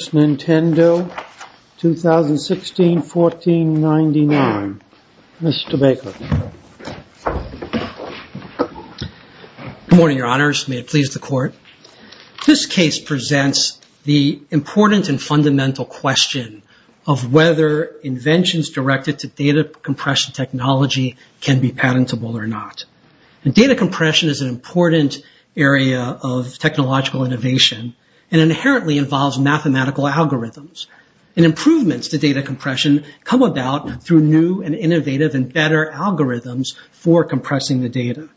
Nintendo, 2016-1499. Mr. Baker. Good morning, Your Honors. May it please the Court. This case presents the important and fundamental question of whether inventions directed to data compression technology can be patentable or not. Data compression is an important area of technological innovation and inherently involves mathematical algorithms. Improvements to data compression come about through new and innovative and better algorithms for compressing the data.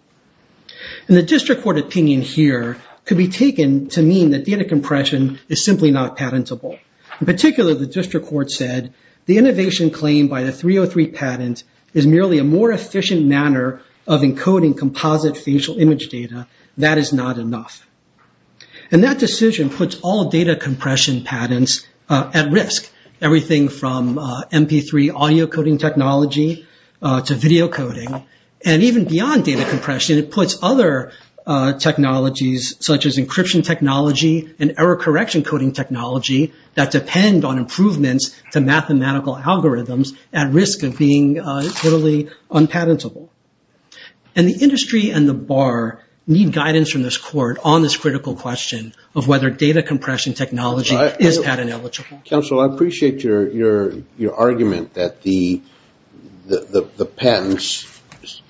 The District Court opinion here could be taken to mean that data compression is simply not patentable. In particular, the District Court said, the innovation claimed by the 303 patent is merely a more efficient manner of encoding composite facial image data. That is not enough. And that decision puts all data compression patents at risk, everything from MP3 audio coding technology to video coding. And even beyond data compression, it puts other technologies such as encryption technology and error correction coding technology that depend on improvements to mathematical algorithms at risk of being totally unpatentable. And the industry and the Bar need guidance from this Court on this critical question of whether data compression technology is patent eligible. Counsel, I appreciate your argument that the patents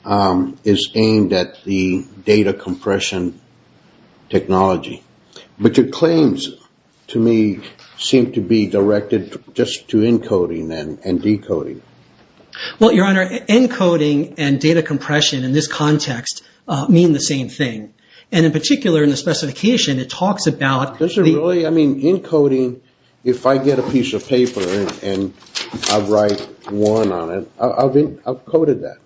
is aimed at the data compression technology. But your claims to me seem to be directed just to encoding and decoding. Well, Your Honor, encoding and data compression in this context mean the same thing. And in particular, in the specification, it talks about… I mean, encoding, if I get a piece of paper and I write one on it, I've coded that.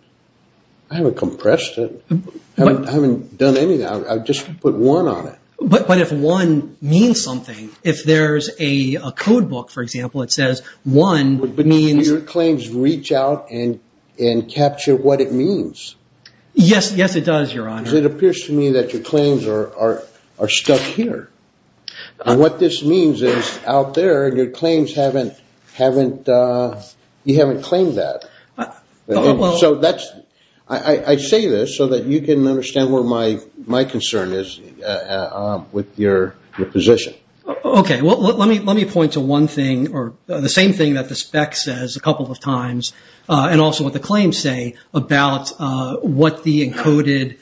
I haven't compressed it. I haven't done anything. I've just put one on it. But if one means something, if there's a code book, for example, that says one means… But your claims reach out and capture what it means. Yes, it does, Your Honor. Because it appears to me that your claims are stuck here. And what this means is out there, your claims haven't…you haven't claimed that. So that's…I say this so that you can understand where my concern is with your position. Okay. Well, let me point to one thing or the same thing that the spec says a couple of times and also what the claims say about what the encoded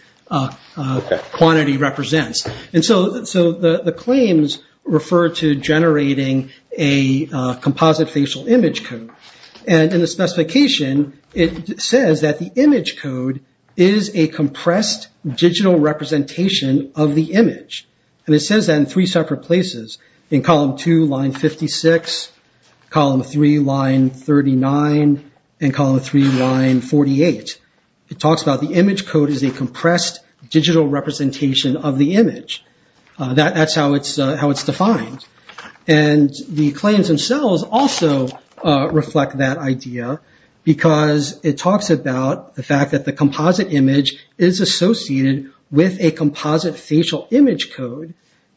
quantity represents. And so the claims refer to generating a composite facial image code. And in the specification, it says that the image code is a compressed digital representation of the image. And it says that in three separate places, in column 2, line 56, column 3, line 39, and column 3, line 48. It talks about the image code is a compressed digital representation of the image. That's how it's defined. And the claims themselves also reflect that idea because it talks about the fact that the composite image is associated with a composite facial image code.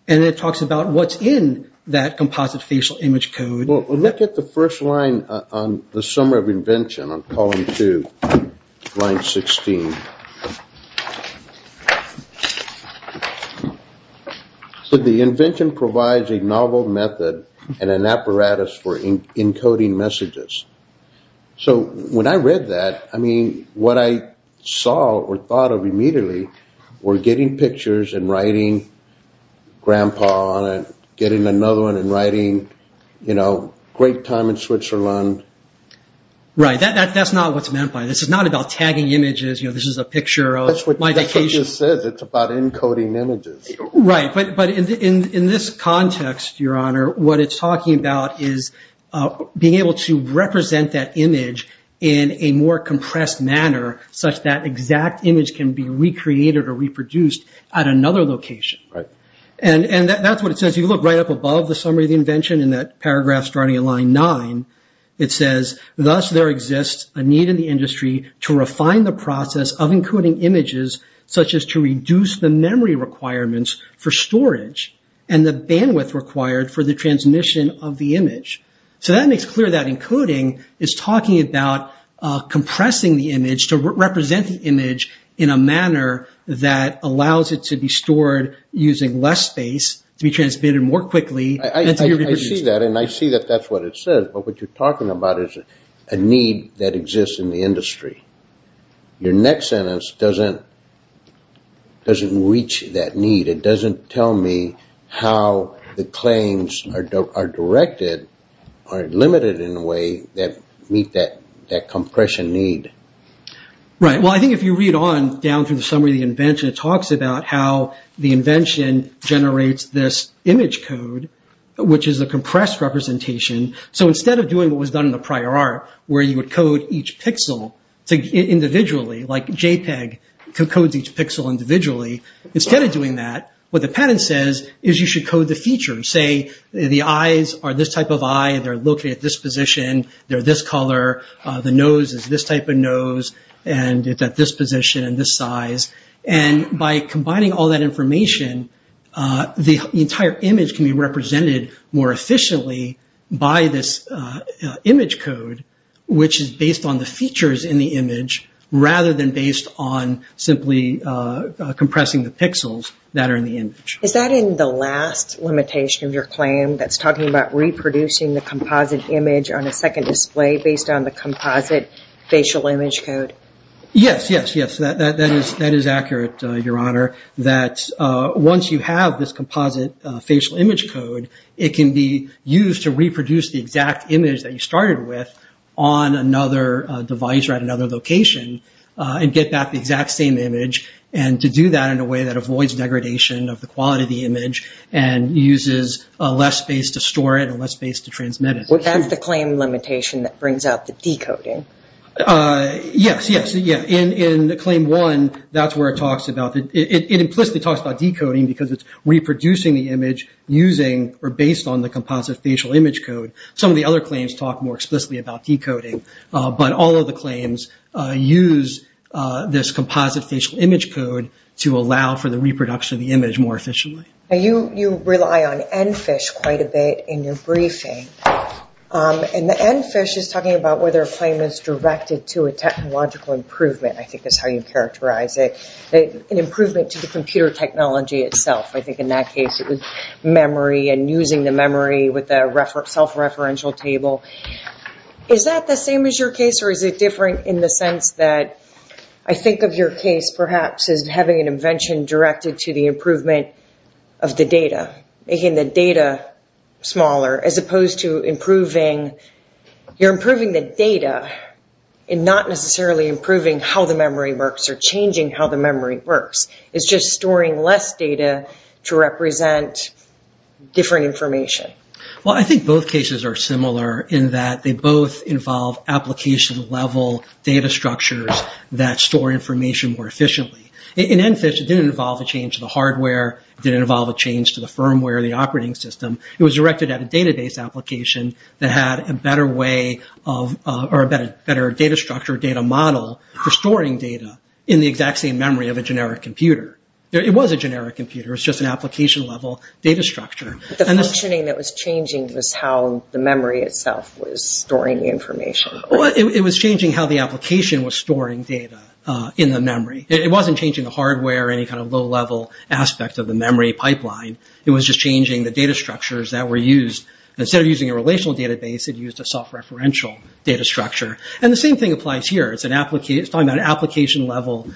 And it talks about what's in that composite facial image code. Well, look at the first line on the summary of invention on column 2, line 16. The invention provides a novel method and an apparatus for encoding messages. So when I read that, I mean, what I saw or thought of immediately were getting pictures and writing grandpa on it, getting another one and writing, you know, great time in Switzerland. Right. That's not what's meant by it. This is not about tagging images. You know, this is a picture of my vacation. That's what this says. It's about encoding images. Right. But in this context, Your Honor, what it's talking about is being able to represent that image in a more compressed manner such that exact image can be recreated or reproduced at another location. Right. And that's what it says. If you look right up above the summary of the invention in that paragraph starting at line 9, it says, thus there exists a need in the industry to refine the process of encoding images such as to reduce the memory requirements for storage and the bandwidth required for the transmission of the image. So that makes clear that encoding is talking about compressing the image to represent the image in a manner that allows it to be stored using less space, to be transmitted more quickly and to be reproduced. I see that, and I see that that's what it says. But what you're talking about is a need that exists in the industry. Your next sentence doesn't reach that need. It doesn't tell me how the claims are directed or limited in a way that meet that compression need. Right. Well, I think if you read on down through the summary of the invention, it talks about how the invention generates this image code, which is a compressed representation. So instead of doing what was done in the prior art, where you would code each pixel individually, like JPEG codes each pixel individually, instead of doing that, what the patent says is you should code the features. Say the eyes are this type of eye. They're located at this position. They're this color. The nose is this type of nose, and it's at this position and this size. And by combining all that information, the entire image can be represented more efficiently by this image code, which is based on the features in the image rather than based on simply compressing the pixels that are in the image. Is that in the last limitation of your claim that's talking about reproducing the composite image on a second display based on the composite facial image code? Yes, yes, yes. That is accurate, Your Honor, that once you have this composite facial image code, it can be used to reproduce the exact image that you started with on another device or at another location and get back the exact same image and to do that in a way that avoids degradation of the quality of the image and uses less space to store it and less space to transmit it. Well, that's the claim limitation that brings out the decoding. Yes, yes, yes. In Claim 1, that's where it implicitly talks about decoding because it's reproducing the image using or based on the composite facial image code. Some of the other claims talk more explicitly about decoding, but all of the claims use this composite facial image code to allow for the reproduction of the image more efficiently. You rely on ENFISH quite a bit in your briefing. And the ENFISH is talking about whether a claim is directed to a technological improvement. I think that's how you characterize it, an improvement to the computer technology itself. I think in that case it was memory and using the memory with a self-referential table. Is that the same as your case or is it different in the sense that I think of your case perhaps as having an invention directed to the improvement of the data, making the data smaller, as opposed to improving the data and not necessarily improving how the memory works or changing how the memory works. It's just storing less data to represent different information. Well, I think both cases are similar in that they both involve application-level data structures that store information more efficiently. In ENFISH, it didn't involve a change to the hardware. It didn't involve a change to the firmware or the operating system. It was directed at a database application that had a better way or a better data structure or data model for storing data in the exact same memory of a generic computer. It was a generic computer. It was just an application-level data structure. The functioning that was changing was how the memory itself was storing the information. It was changing how the application was storing data in the memory. It wasn't changing the hardware or any kind of low-level aspect of the memory pipeline. It was just changing the data structures that were used. Instead of using a relational database, it used a soft-referential data structure. And the same thing applies here. It's talking about an application-level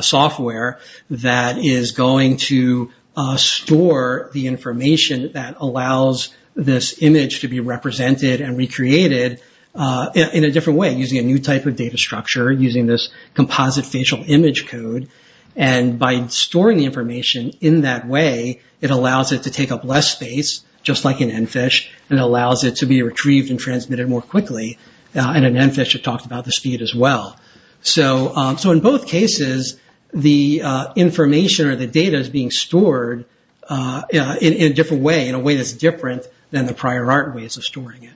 software that is going to store the information that allows this image to be represented and recreated in a different way, using a new type of data structure, using this composite facial image code. And by storing the information in that way, it allows it to take up less space, just like in ENFISH, and allows it to be retrieved and transmitted more quickly. And in ENFISH, it talked about the speed as well. So in both cases, the information or the data is being stored in a different way, in a way that's different than the prior art ways of storing it.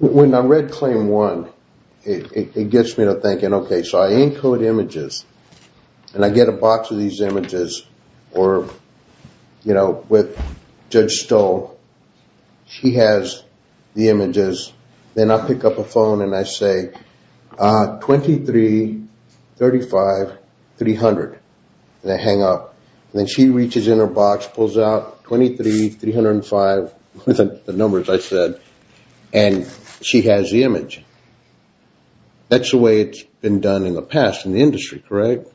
When I read Claim 1, it gets me to thinking, okay, so I encode images, and I get a box of these images, or, you know, with Judge Stull, she has the images. Then I pick up a phone and I say, 2335300, and I hang up. And then she reaches in her box, pulls out 23305, the numbers I said, and she has the image. That's the way it's been done in the past in the industry, correct?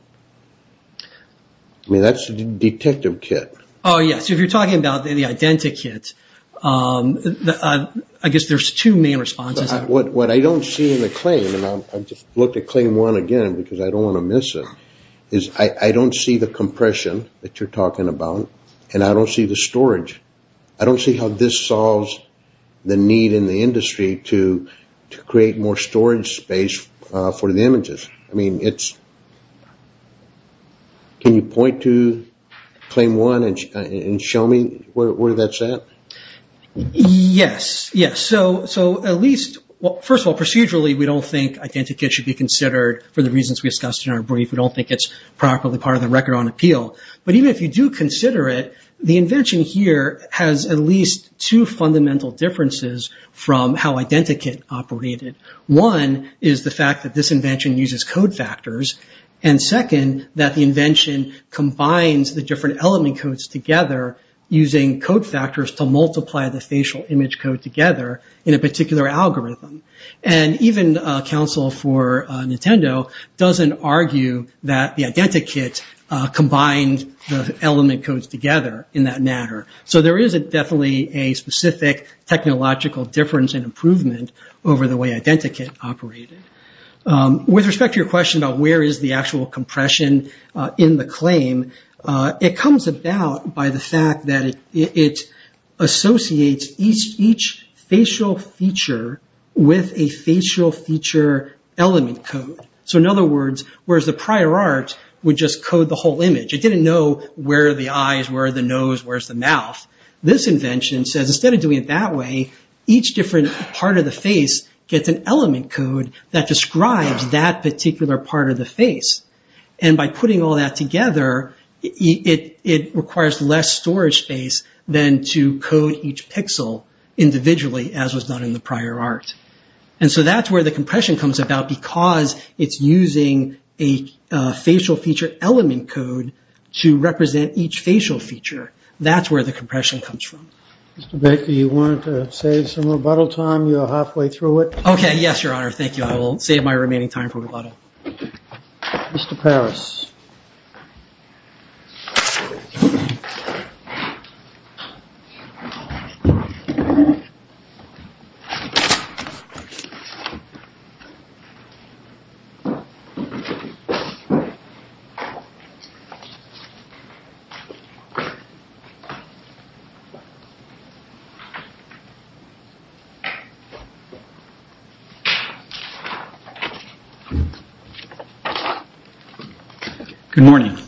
I mean, that's the detective kit. Oh, yes. If you're talking about the identikit, I guess there's two main responses. What I don't see in the claim, and I just looked at Claim 1 again because I don't want to miss it, is I don't see the compression that you're talking about, and I don't see the storage. I don't see how this solves the need in the industry to create more storage space for the images. I mean, can you point to Claim 1 and show me where that's at? Yes, yes. So at least, first of all, procedurally, we don't think identikit should be considered for the reasons we discussed in our brief. We don't think it's properly part of the record on appeal. But even if you do consider it, the invention here has at least two fundamental differences from how identikit operated. One is the fact that this invention uses code factors, and second, that the invention combines the different element codes together using code factors to multiply the facial image code together in a particular algorithm. And even counsel for Nintendo doesn't argue that the identikit combined the element codes together in that matter. So there is definitely a specific technological difference and improvement over the way identikit operated. With respect to your question about where is the actual compression in the claim, it comes about by the fact that it associates each facial feature with a facial feature element code. So in other words, whereas the prior art would just code the whole image, it didn't know where the eyes, where the nose, where's the mouth. This invention says instead of doing it that way, each different part of the face gets an element code that describes that particular part of the face. And by putting all that together, it requires less storage space than to code each pixel individually as was done in the prior art. And so that's where the compression comes about because it's using a facial feature element code to represent each facial feature. That's where the compression comes from. Mr. Baker, you want to save some rebuttal time? You're halfway through it. Okay. Yes, your honor. Thank you. I will save my remaining time for rebuttal. Good morning.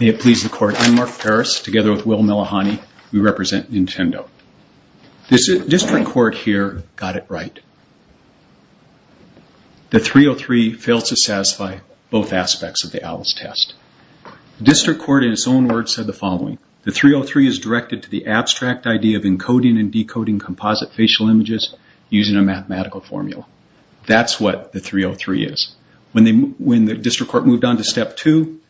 May it please the court. I'm Mark Paris. Together with Will Milahani, we represent Nintendo. District court here got it right. The 303 failed to satisfy both aspects of the Alice test. District court in its own words said the following, the 303 is directed to the abstract idea of encoding and decoding composite facial images using a mathematical formula. That's what the 303 is. When the district court moved on to step two,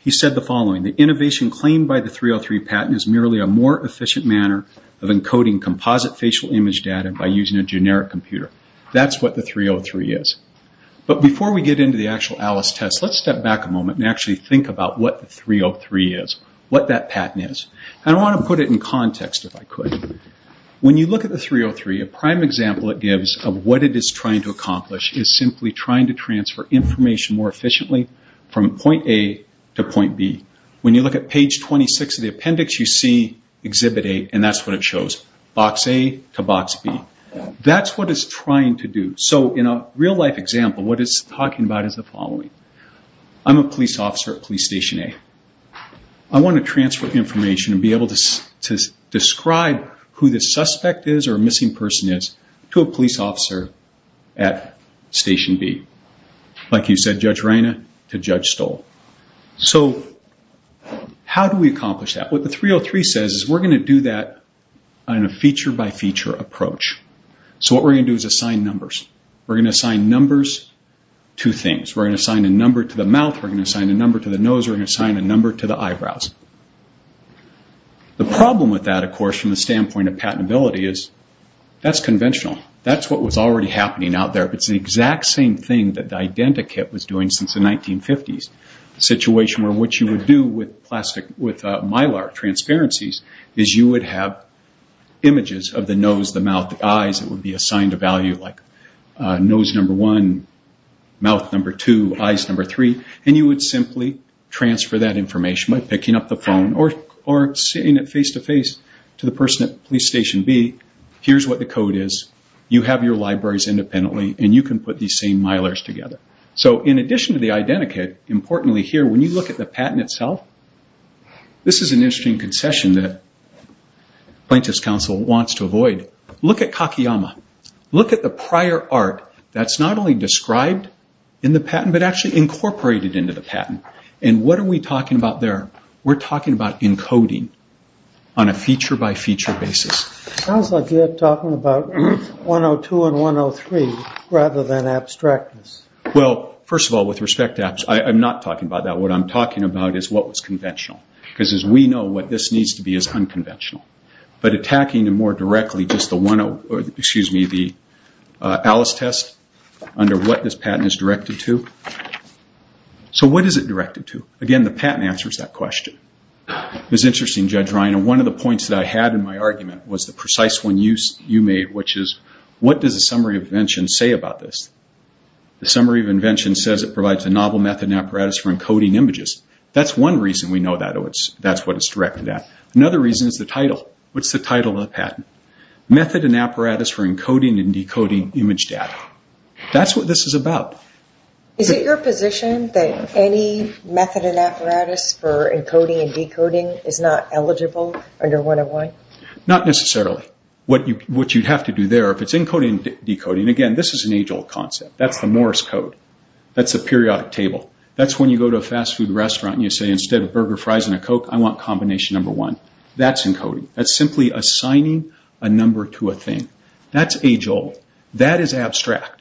he said the following, the innovation claimed by the 303 patent is merely a more efficient manner of encoding composite facial image data by using a generic computer. That's what the 303 is. But before we get into the actual Alice test, let's step back a moment and actually think about what the 303 is, what that patent is. I want to put it in context, if I could. When you look at the 303, a prime example it gives of what it is trying to accomplish is simply trying to transfer information more efficiently from point A to point B. When you look at page 26 of the appendix, you see exhibit A and that's what it shows, box A to box B. That's what it's trying to do. In a real life example, what it's talking about is the following. I'm a police officer at police station A. I want to transfer information and be able to describe who the suspect is or missing person is to a police officer at station B. Like you said, Judge Reyna to Judge Stoll. How do we accomplish that? What the 303 says is we're going to do that on a feature by feature approach. What we're going to do is assign numbers. We're going to assign numbers to things. We're going to assign a number to the mouth, we're going to assign a number to the nose, we're going to assign a number to the eyebrows. The problem with that, of course, from the standpoint of patentability is that's conventional. That's what was already happening out there. It's the exact same thing that the identikit was doing since the 1950s. The situation where what you would do with mylar transparencies is you would have images of the nose, the mouth, the eyes. It would be assigned a value like nose number one, mouth number two, eyes number three. You would simply transfer that information by picking up the phone or seeing it face-to-face to the person at police station B. Here's what the code is. You have your libraries independently and you can put these same mylars together. In addition to the identikit, importantly here when you look at the patent itself, this is an interesting concession that plaintiff's counsel wants to avoid. Look at Kakeyama. Look at the prior art that's not only described in the patent but actually incorporated into the patent. What are we talking about there? We're talking about encoding on a feature-by-feature basis. Sounds like you're talking about 102 and 103 rather than abstractness. First of all, with respect to abstractness, I'm not talking about that. What I'm talking about is what was conventional. As we know, what this needs to be is unconventional. Attacking more directly the Alice test under what this patent is directed to. What is it directed to? Again, the patent answers that question. One of the points that I had in my argument was the precise one you made, which is what does the summary of invention say about this? The summary of invention says it provides a novel method and apparatus for encoding images. That's one reason we know that's what it's directed at. Another reason is the title. What's the title of the patent? Method and Apparatus for Encoding and Decoding Image Data. That's what this is about. Is it your position that any method and apparatus for encoding and decoding is not eligible under 101? Not necessarily. What you'd have to do there, if it's encoding and decoding, again, this is an age-old concept. That's the Morse Code. That's the periodic table. That's when you go to a fast food restaurant and you say, instead of burger, fries, and a Coke, I want combination number one. That's encoding. That's simply assigning a number to a thing. That's age-old. That is abstract.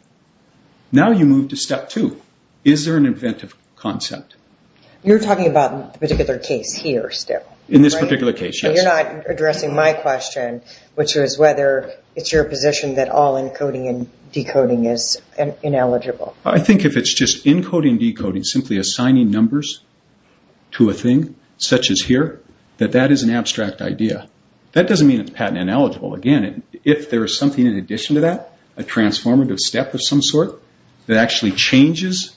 Now you move to step two. Is there an inventive concept? You're talking about a particular case here still. In this particular case, yes. You're not addressing my question, which is whether it's your position that all encoding and decoding is ineligible. I think if it's just encoding and decoding, simply assigning numbers to a thing, such as here, that that is an abstract idea. That doesn't mean it's patent ineligible. Again, if there is something in addition to that, a transformative step of some sort, that actually changes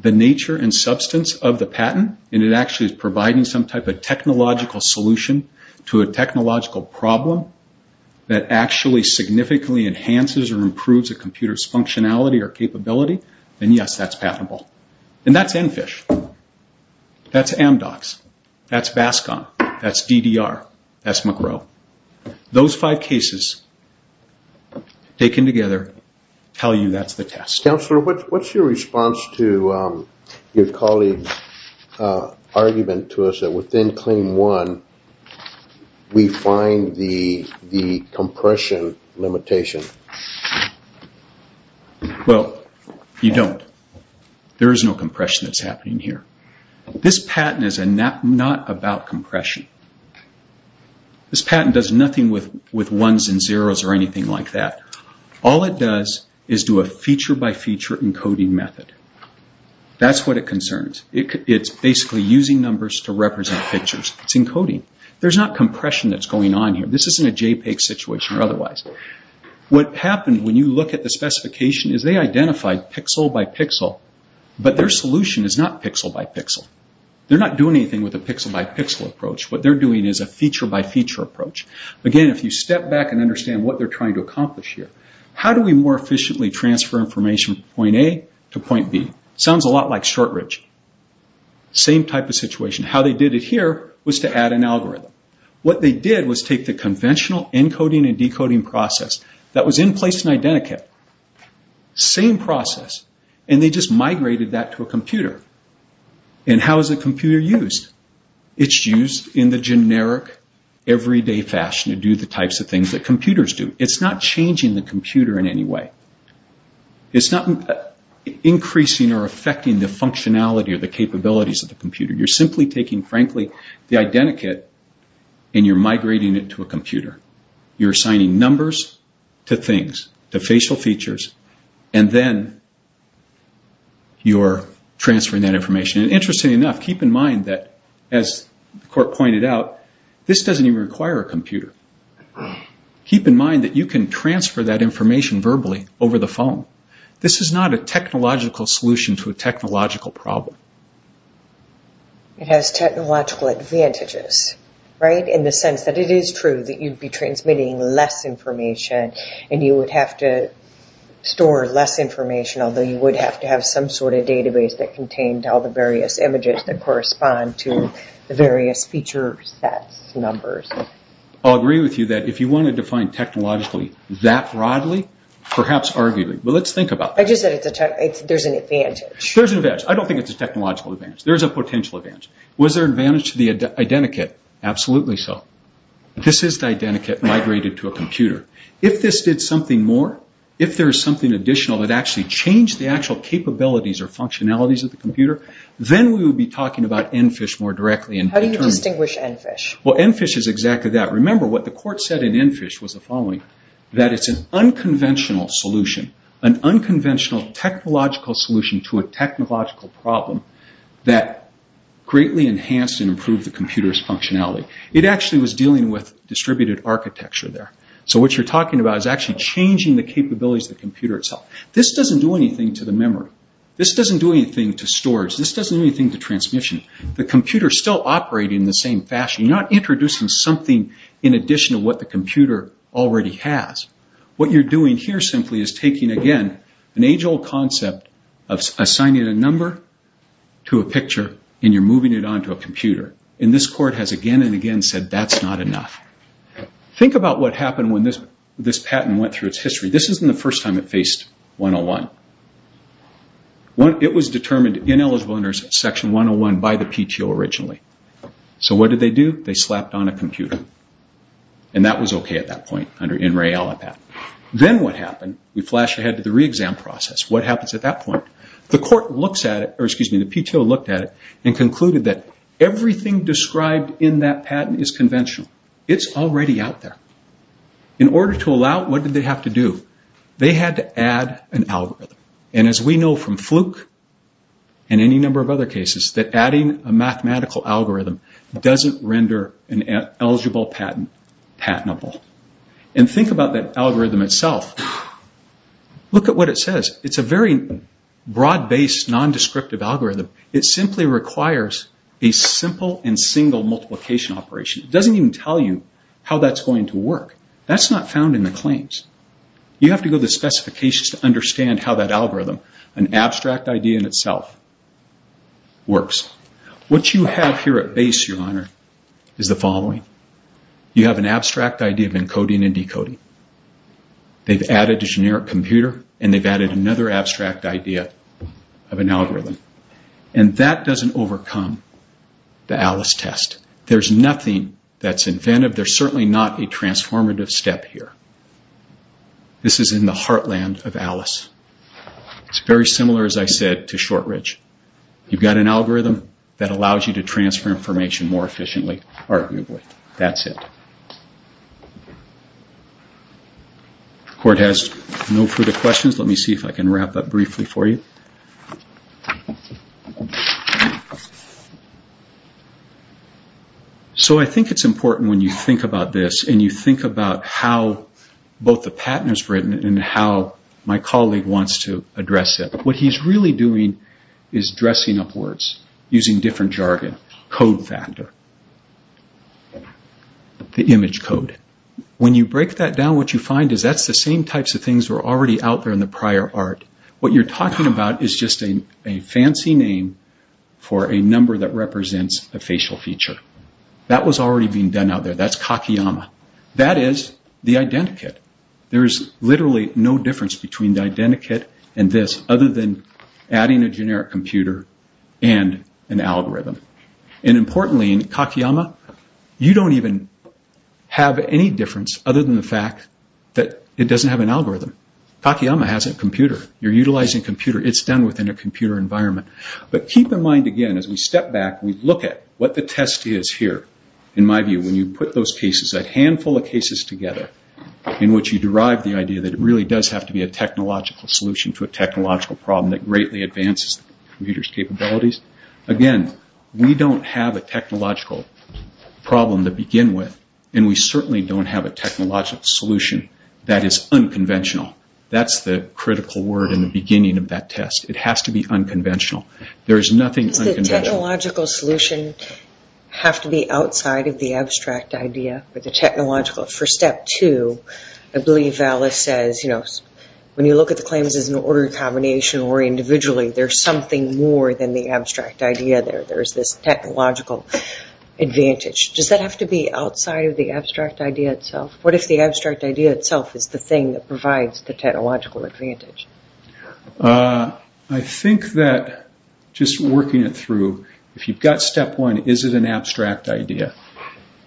the nature and substance of the patent, and it actually is providing some type of technological solution to a technological problem that actually significantly enhances or improves a computer's functionality or capability, then yes, that's patentable. And that's EnFish. That's Amdocs. That's Bascom. That's DDR. That's McGrow. Those five cases taken together tell you that's the test. Counselor, what's your response to your colleague's argument to us that within Claim 1, we find the compression limitation? Well, you don't. There is no compression that's happening here. This patent is not about compression. This patent does nothing with ones and zeros or anything like that. All it does is do a feature-by-feature encoding method. That's what it concerns. It's basically using numbers to represent pictures. It's encoding. There's not compression that's going on here. This isn't a JPEG situation or otherwise. What happened when you look at the specification is they identified pixel-by-pixel, but their solution is not pixel-by-pixel. They're not doing anything with a pixel-by-pixel approach. What they're doing is a feature-by-feature approach. Again, if you step back and understand what they're trying to accomplish here, how do we more efficiently transfer information from point A to point B? Sounds a lot like Shortridge. Same type of situation. How they did it here was to add an algorithm. What they did was take the conventional encoding and decoding process that was in place in Identikit, same process, and they just migrated that to a computer. How is the computer used? It's used in the generic, everyday fashion to do the types of things that computers do. It's not changing the computer in any way. It's not increasing or affecting the functionality or the capabilities of the computer. You're simply taking, frankly, the Identikit and you're migrating it to a computer. You're assigning numbers to things, to facial features, and then you're transferring that information. Interestingly enough, keep in mind that, as the court pointed out, this doesn't even require a computer. Keep in mind that you can transfer that information verbally over the phone. This is not a technological solution to a technological problem. It has technological advantages in the sense that it is true that you'd be transmitting less information and you would have to store less information, although you would have to have some sort of database that contained all the various images that correspond to the various feature sets, numbers. I'll agree with you that if you want to define technologically that broadly, perhaps arguably, but let's think about it. I just said there's an advantage. There's an advantage. I don't think it's a technological advantage. There's a potential advantage. Was there an advantage to the Identikit? Absolutely so. This is the Identikit migrated to a computer. If this did something more, if there was something additional that actually changed the actual capabilities or functionalities of the computer, then we would be talking about EnFish more directly. How do you distinguish EnFish? EnFish is exactly that. Remember what the court said in EnFish was the following, that it's an unconventional solution, an unconventional technological solution to a technological problem that greatly enhanced and improved the computer's functionality. It actually was dealing with distributed architecture there. What you're talking about is actually changing the capabilities of the computer itself. This doesn't do anything to the memory. This doesn't do anything to storage. This doesn't do anything to transmission. The computer is still operating in the same fashion. You're not introducing something in addition to what the computer already has. What you're doing here simply is taking, again, an age-old concept of assigning a number to a picture and you're moving it onto a computer. This court has again and again said that's not enough. Think about what happened when this patent went through its history. This isn't the first time it faced 101. It was determined ineligible under Section 101 by the PTO originally. What did they do? They slapped on a computer. That was okay at that point under NREALA patent. Then what happened? We flash ahead to the re-exam process. What happens at that point? The PTO looked at it and concluded that everything described in that patent is conventional. It's already out there. In order to allow it, what did they have to do? They had to add an algorithm. As we know from Fluke and any number of other cases, that adding a mathematical algorithm doesn't render an eligible patent patentable. Think about that algorithm itself. Look at what it says. It's a very broad-based, non-descriptive algorithm. It simply requires a simple and single multiplication operation. It doesn't even tell you how that's going to work. That's not found in the claims. You have to go to the specifications to understand how that algorithm, an abstract idea in itself, works. What you have here at base, Your Honor, is the following. You have an abstract idea of encoding and decoding. They've added a generic computer, and they've added another abstract idea of an algorithm. That doesn't overcome the Alice test. There's nothing that's inventive. There's certainly not a transformative step here. This is in the heartland of Alice. It's very similar, as I said, to Shortridge. You've got an algorithm that allows you to transfer information more efficiently, arguably. That's it. Court has no further questions. Let me see if I can wrap up briefly for you. I think it's important, when you think about this, and you think about how both the patent is written and how my colleague wants to address it, what he's really doing is dressing up words using different jargon, code factor, the image code. When you break that down, what you find is that's the same types of things that were already out there in the prior art. What you're talking about is just a fancy name for a number that represents a facial feature. That was already being done out there. That's Kakeyama. That is the identikit. There is literally no difference between the identikit and this, other than adding a generic computer and an algorithm. Importantly, in Kakeyama, you don't even have any difference, other than the fact that it doesn't have an algorithm. Kakeyama has a computer. You're utilizing a computer. It's done within a computer environment. Keep in mind, again, as we step back, we look at what the test is here. In my view, when you put those cases, that handful of cases together, in which you derive the idea that it really does have to be a technological solution to a technological problem that greatly advances the computer's capabilities. Again, we don't have a technological problem to begin with, and we certainly don't have a technological solution that is unconventional. That's the critical word in the beginning of that test. It has to be unconventional. There is nothing unconventional. Does the technological solution have to be outside of the abstract idea or the technological? For step two, I believe Alice says, when you look at the claims as an ordered combination or individually, there's something more than the abstract idea there. There's this technological advantage. Does that have to be outside of the abstract idea itself? What if the abstract idea itself is the thing that provides the technological advantage? I think that, just working it through, if you've got step one, is it an abstract idea?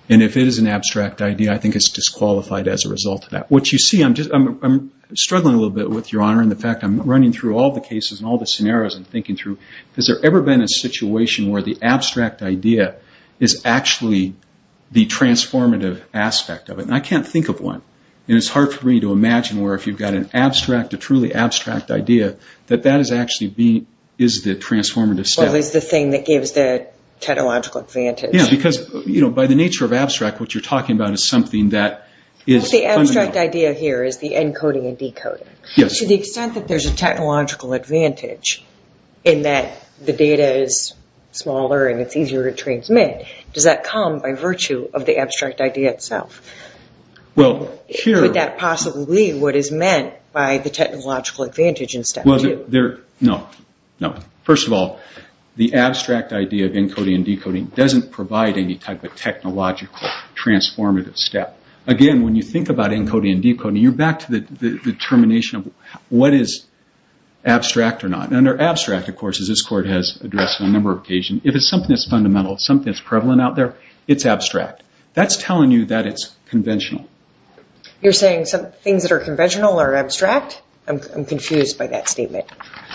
If it is an abstract idea, I think it's disqualified as a result of that. What you see, I'm struggling a little bit with, Your Honor, in the fact I'm running through all the cases and all the scenarios and thinking through, has there ever been a situation where the abstract idea is actually the transformative aspect of it? I can't think of one. It's hard for me to imagine where, if you've got a truly abstract idea, that that is actually the transformative step. Well, it's the thing that gives the technological advantage. Yeah, because by the nature of abstract, what you're talking about is something that is fundamental. The abstract idea here is the encoding and decoding. Yes. To the extent that there's a technological advantage in that the data is smaller and it's easier to transmit, does that come by virtue of the abstract idea itself? Could that possibly be what is meant by the technological advantage in step two? No. First of all, the abstract idea of encoding and decoding doesn't provide any type of technological transformative step. Again, when you think about encoding and decoding, you're back to the determination of what is abstract or not. Under abstract, of course, as this Court has addressed on a number of occasions, if it's something that's fundamental, something that's prevalent out there, it's abstract. That's telling you that it's conventional. You're saying things that are conventional are abstract? I'm confused by that statement.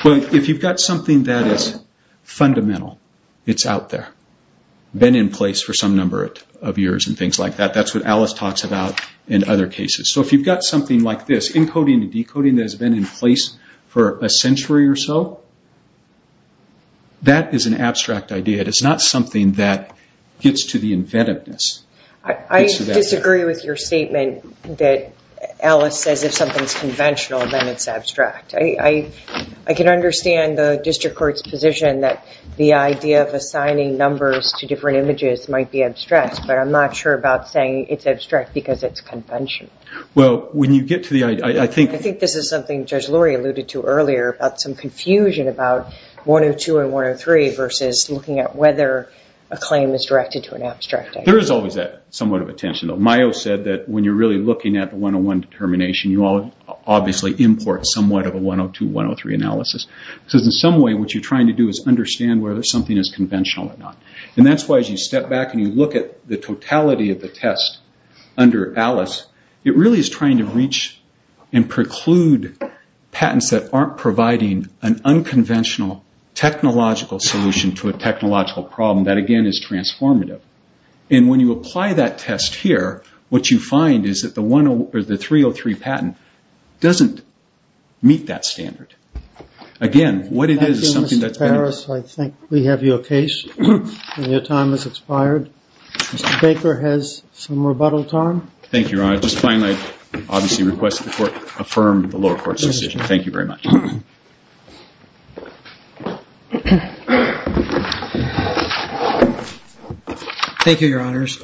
Well, if you've got something that is fundamental, it's out there, been in place for some number of years and things like that, that's what Alice talks about in other cases. So if you've got something like this, encoding and decoding that has been in place for a century or so, that is an abstract idea. It is not something that gets to the inventiveness. I disagree with your statement that Alice says if something is conventional, then it's abstract. I can understand the District Court's position that the idea of assigning numbers to different images might be abstract, but I'm not sure about saying it's abstract because it's conventional. Well, when you get to the idea, I think... I think this is something Judge Lurie alluded to earlier about some confusion about 102 and 103 versus looking at whether a claim is directed to an abstract idea. There is always that somewhat of a tension, though. Mayo said that when you're really looking at the 101 determination, you obviously import somewhat of a 102-103 analysis because in some way what you're trying to do is understand whether something is conventional or not. And that's why as you step back and you look at the totality of the test under Alice, it really is trying to reach and preclude patents that aren't providing an unconventional technological solution to a technological problem that, again, is transformative. And when you apply that test here, what you find is that the 303 patent doesn't meet that standard. Again, what it is is something that's... Mr. Harris, I think we have your case. Your time has expired. Mr. Baker has some rebuttal time. Thank you, Your Honor. I just finally obviously request the Court affirm the lower court's decision. Thank you very much. Thank you, Your Honors.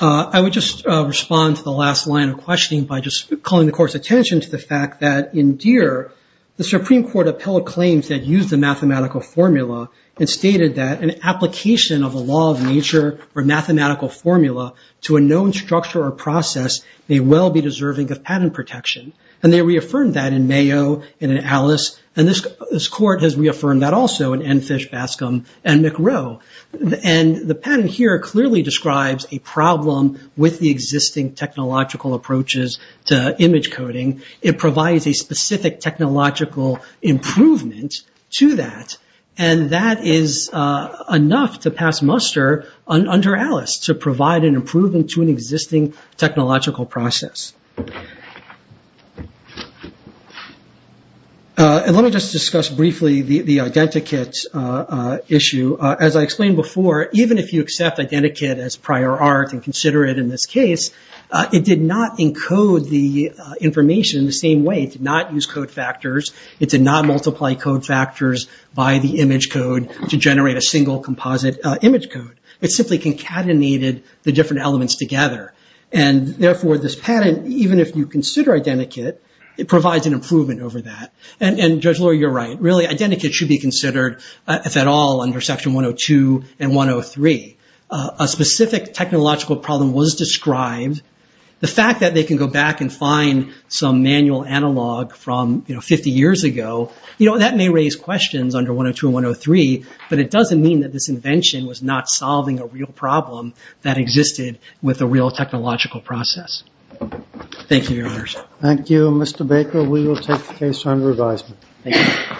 I would just respond to the last line of questioning by just calling the Court's attention to the fact that in Deere, the Supreme Court appealed a claim that used a mathematical formula and stated that an application of a law of nature or mathematical formula to a known structure or process may well be deserving of patent protection. And they reaffirmed that in Mayo and in Alice, and this Court has reaffirmed that also in Enfish, Bascom, and McRow. And the patent here clearly describes a problem with the existing technological approaches to image coding. It provides a specific technological improvement to that, and that is enough to pass muster under Alice to provide an improvement to an existing technological process. Let me just discuss briefly the identikit issue. As I explained before, even if you accept identikit as prior art and consider it in this case, it did not encode the information in the same way. It did not use code factors. It did not multiply code factors by the image code to generate a single composite image code. It simply concatenated the different elements together. And therefore, this patent, even if you consider identikit, it provides an improvement over that. And, Judge Lawyer, you're right. Really, identikit should be considered, if at all, under Section 102 and 103. A specific technological problem was described. The fact that they can go back and find some manual analog from, you know, 50 years ago, you know, that may raise questions under 102 and 103, but it doesn't mean that this invention was not solving a real problem that existed with a real technological process. Thank you, Your Honors. Thank you, Mr. Baker. We will take the case on revisement. Thank you.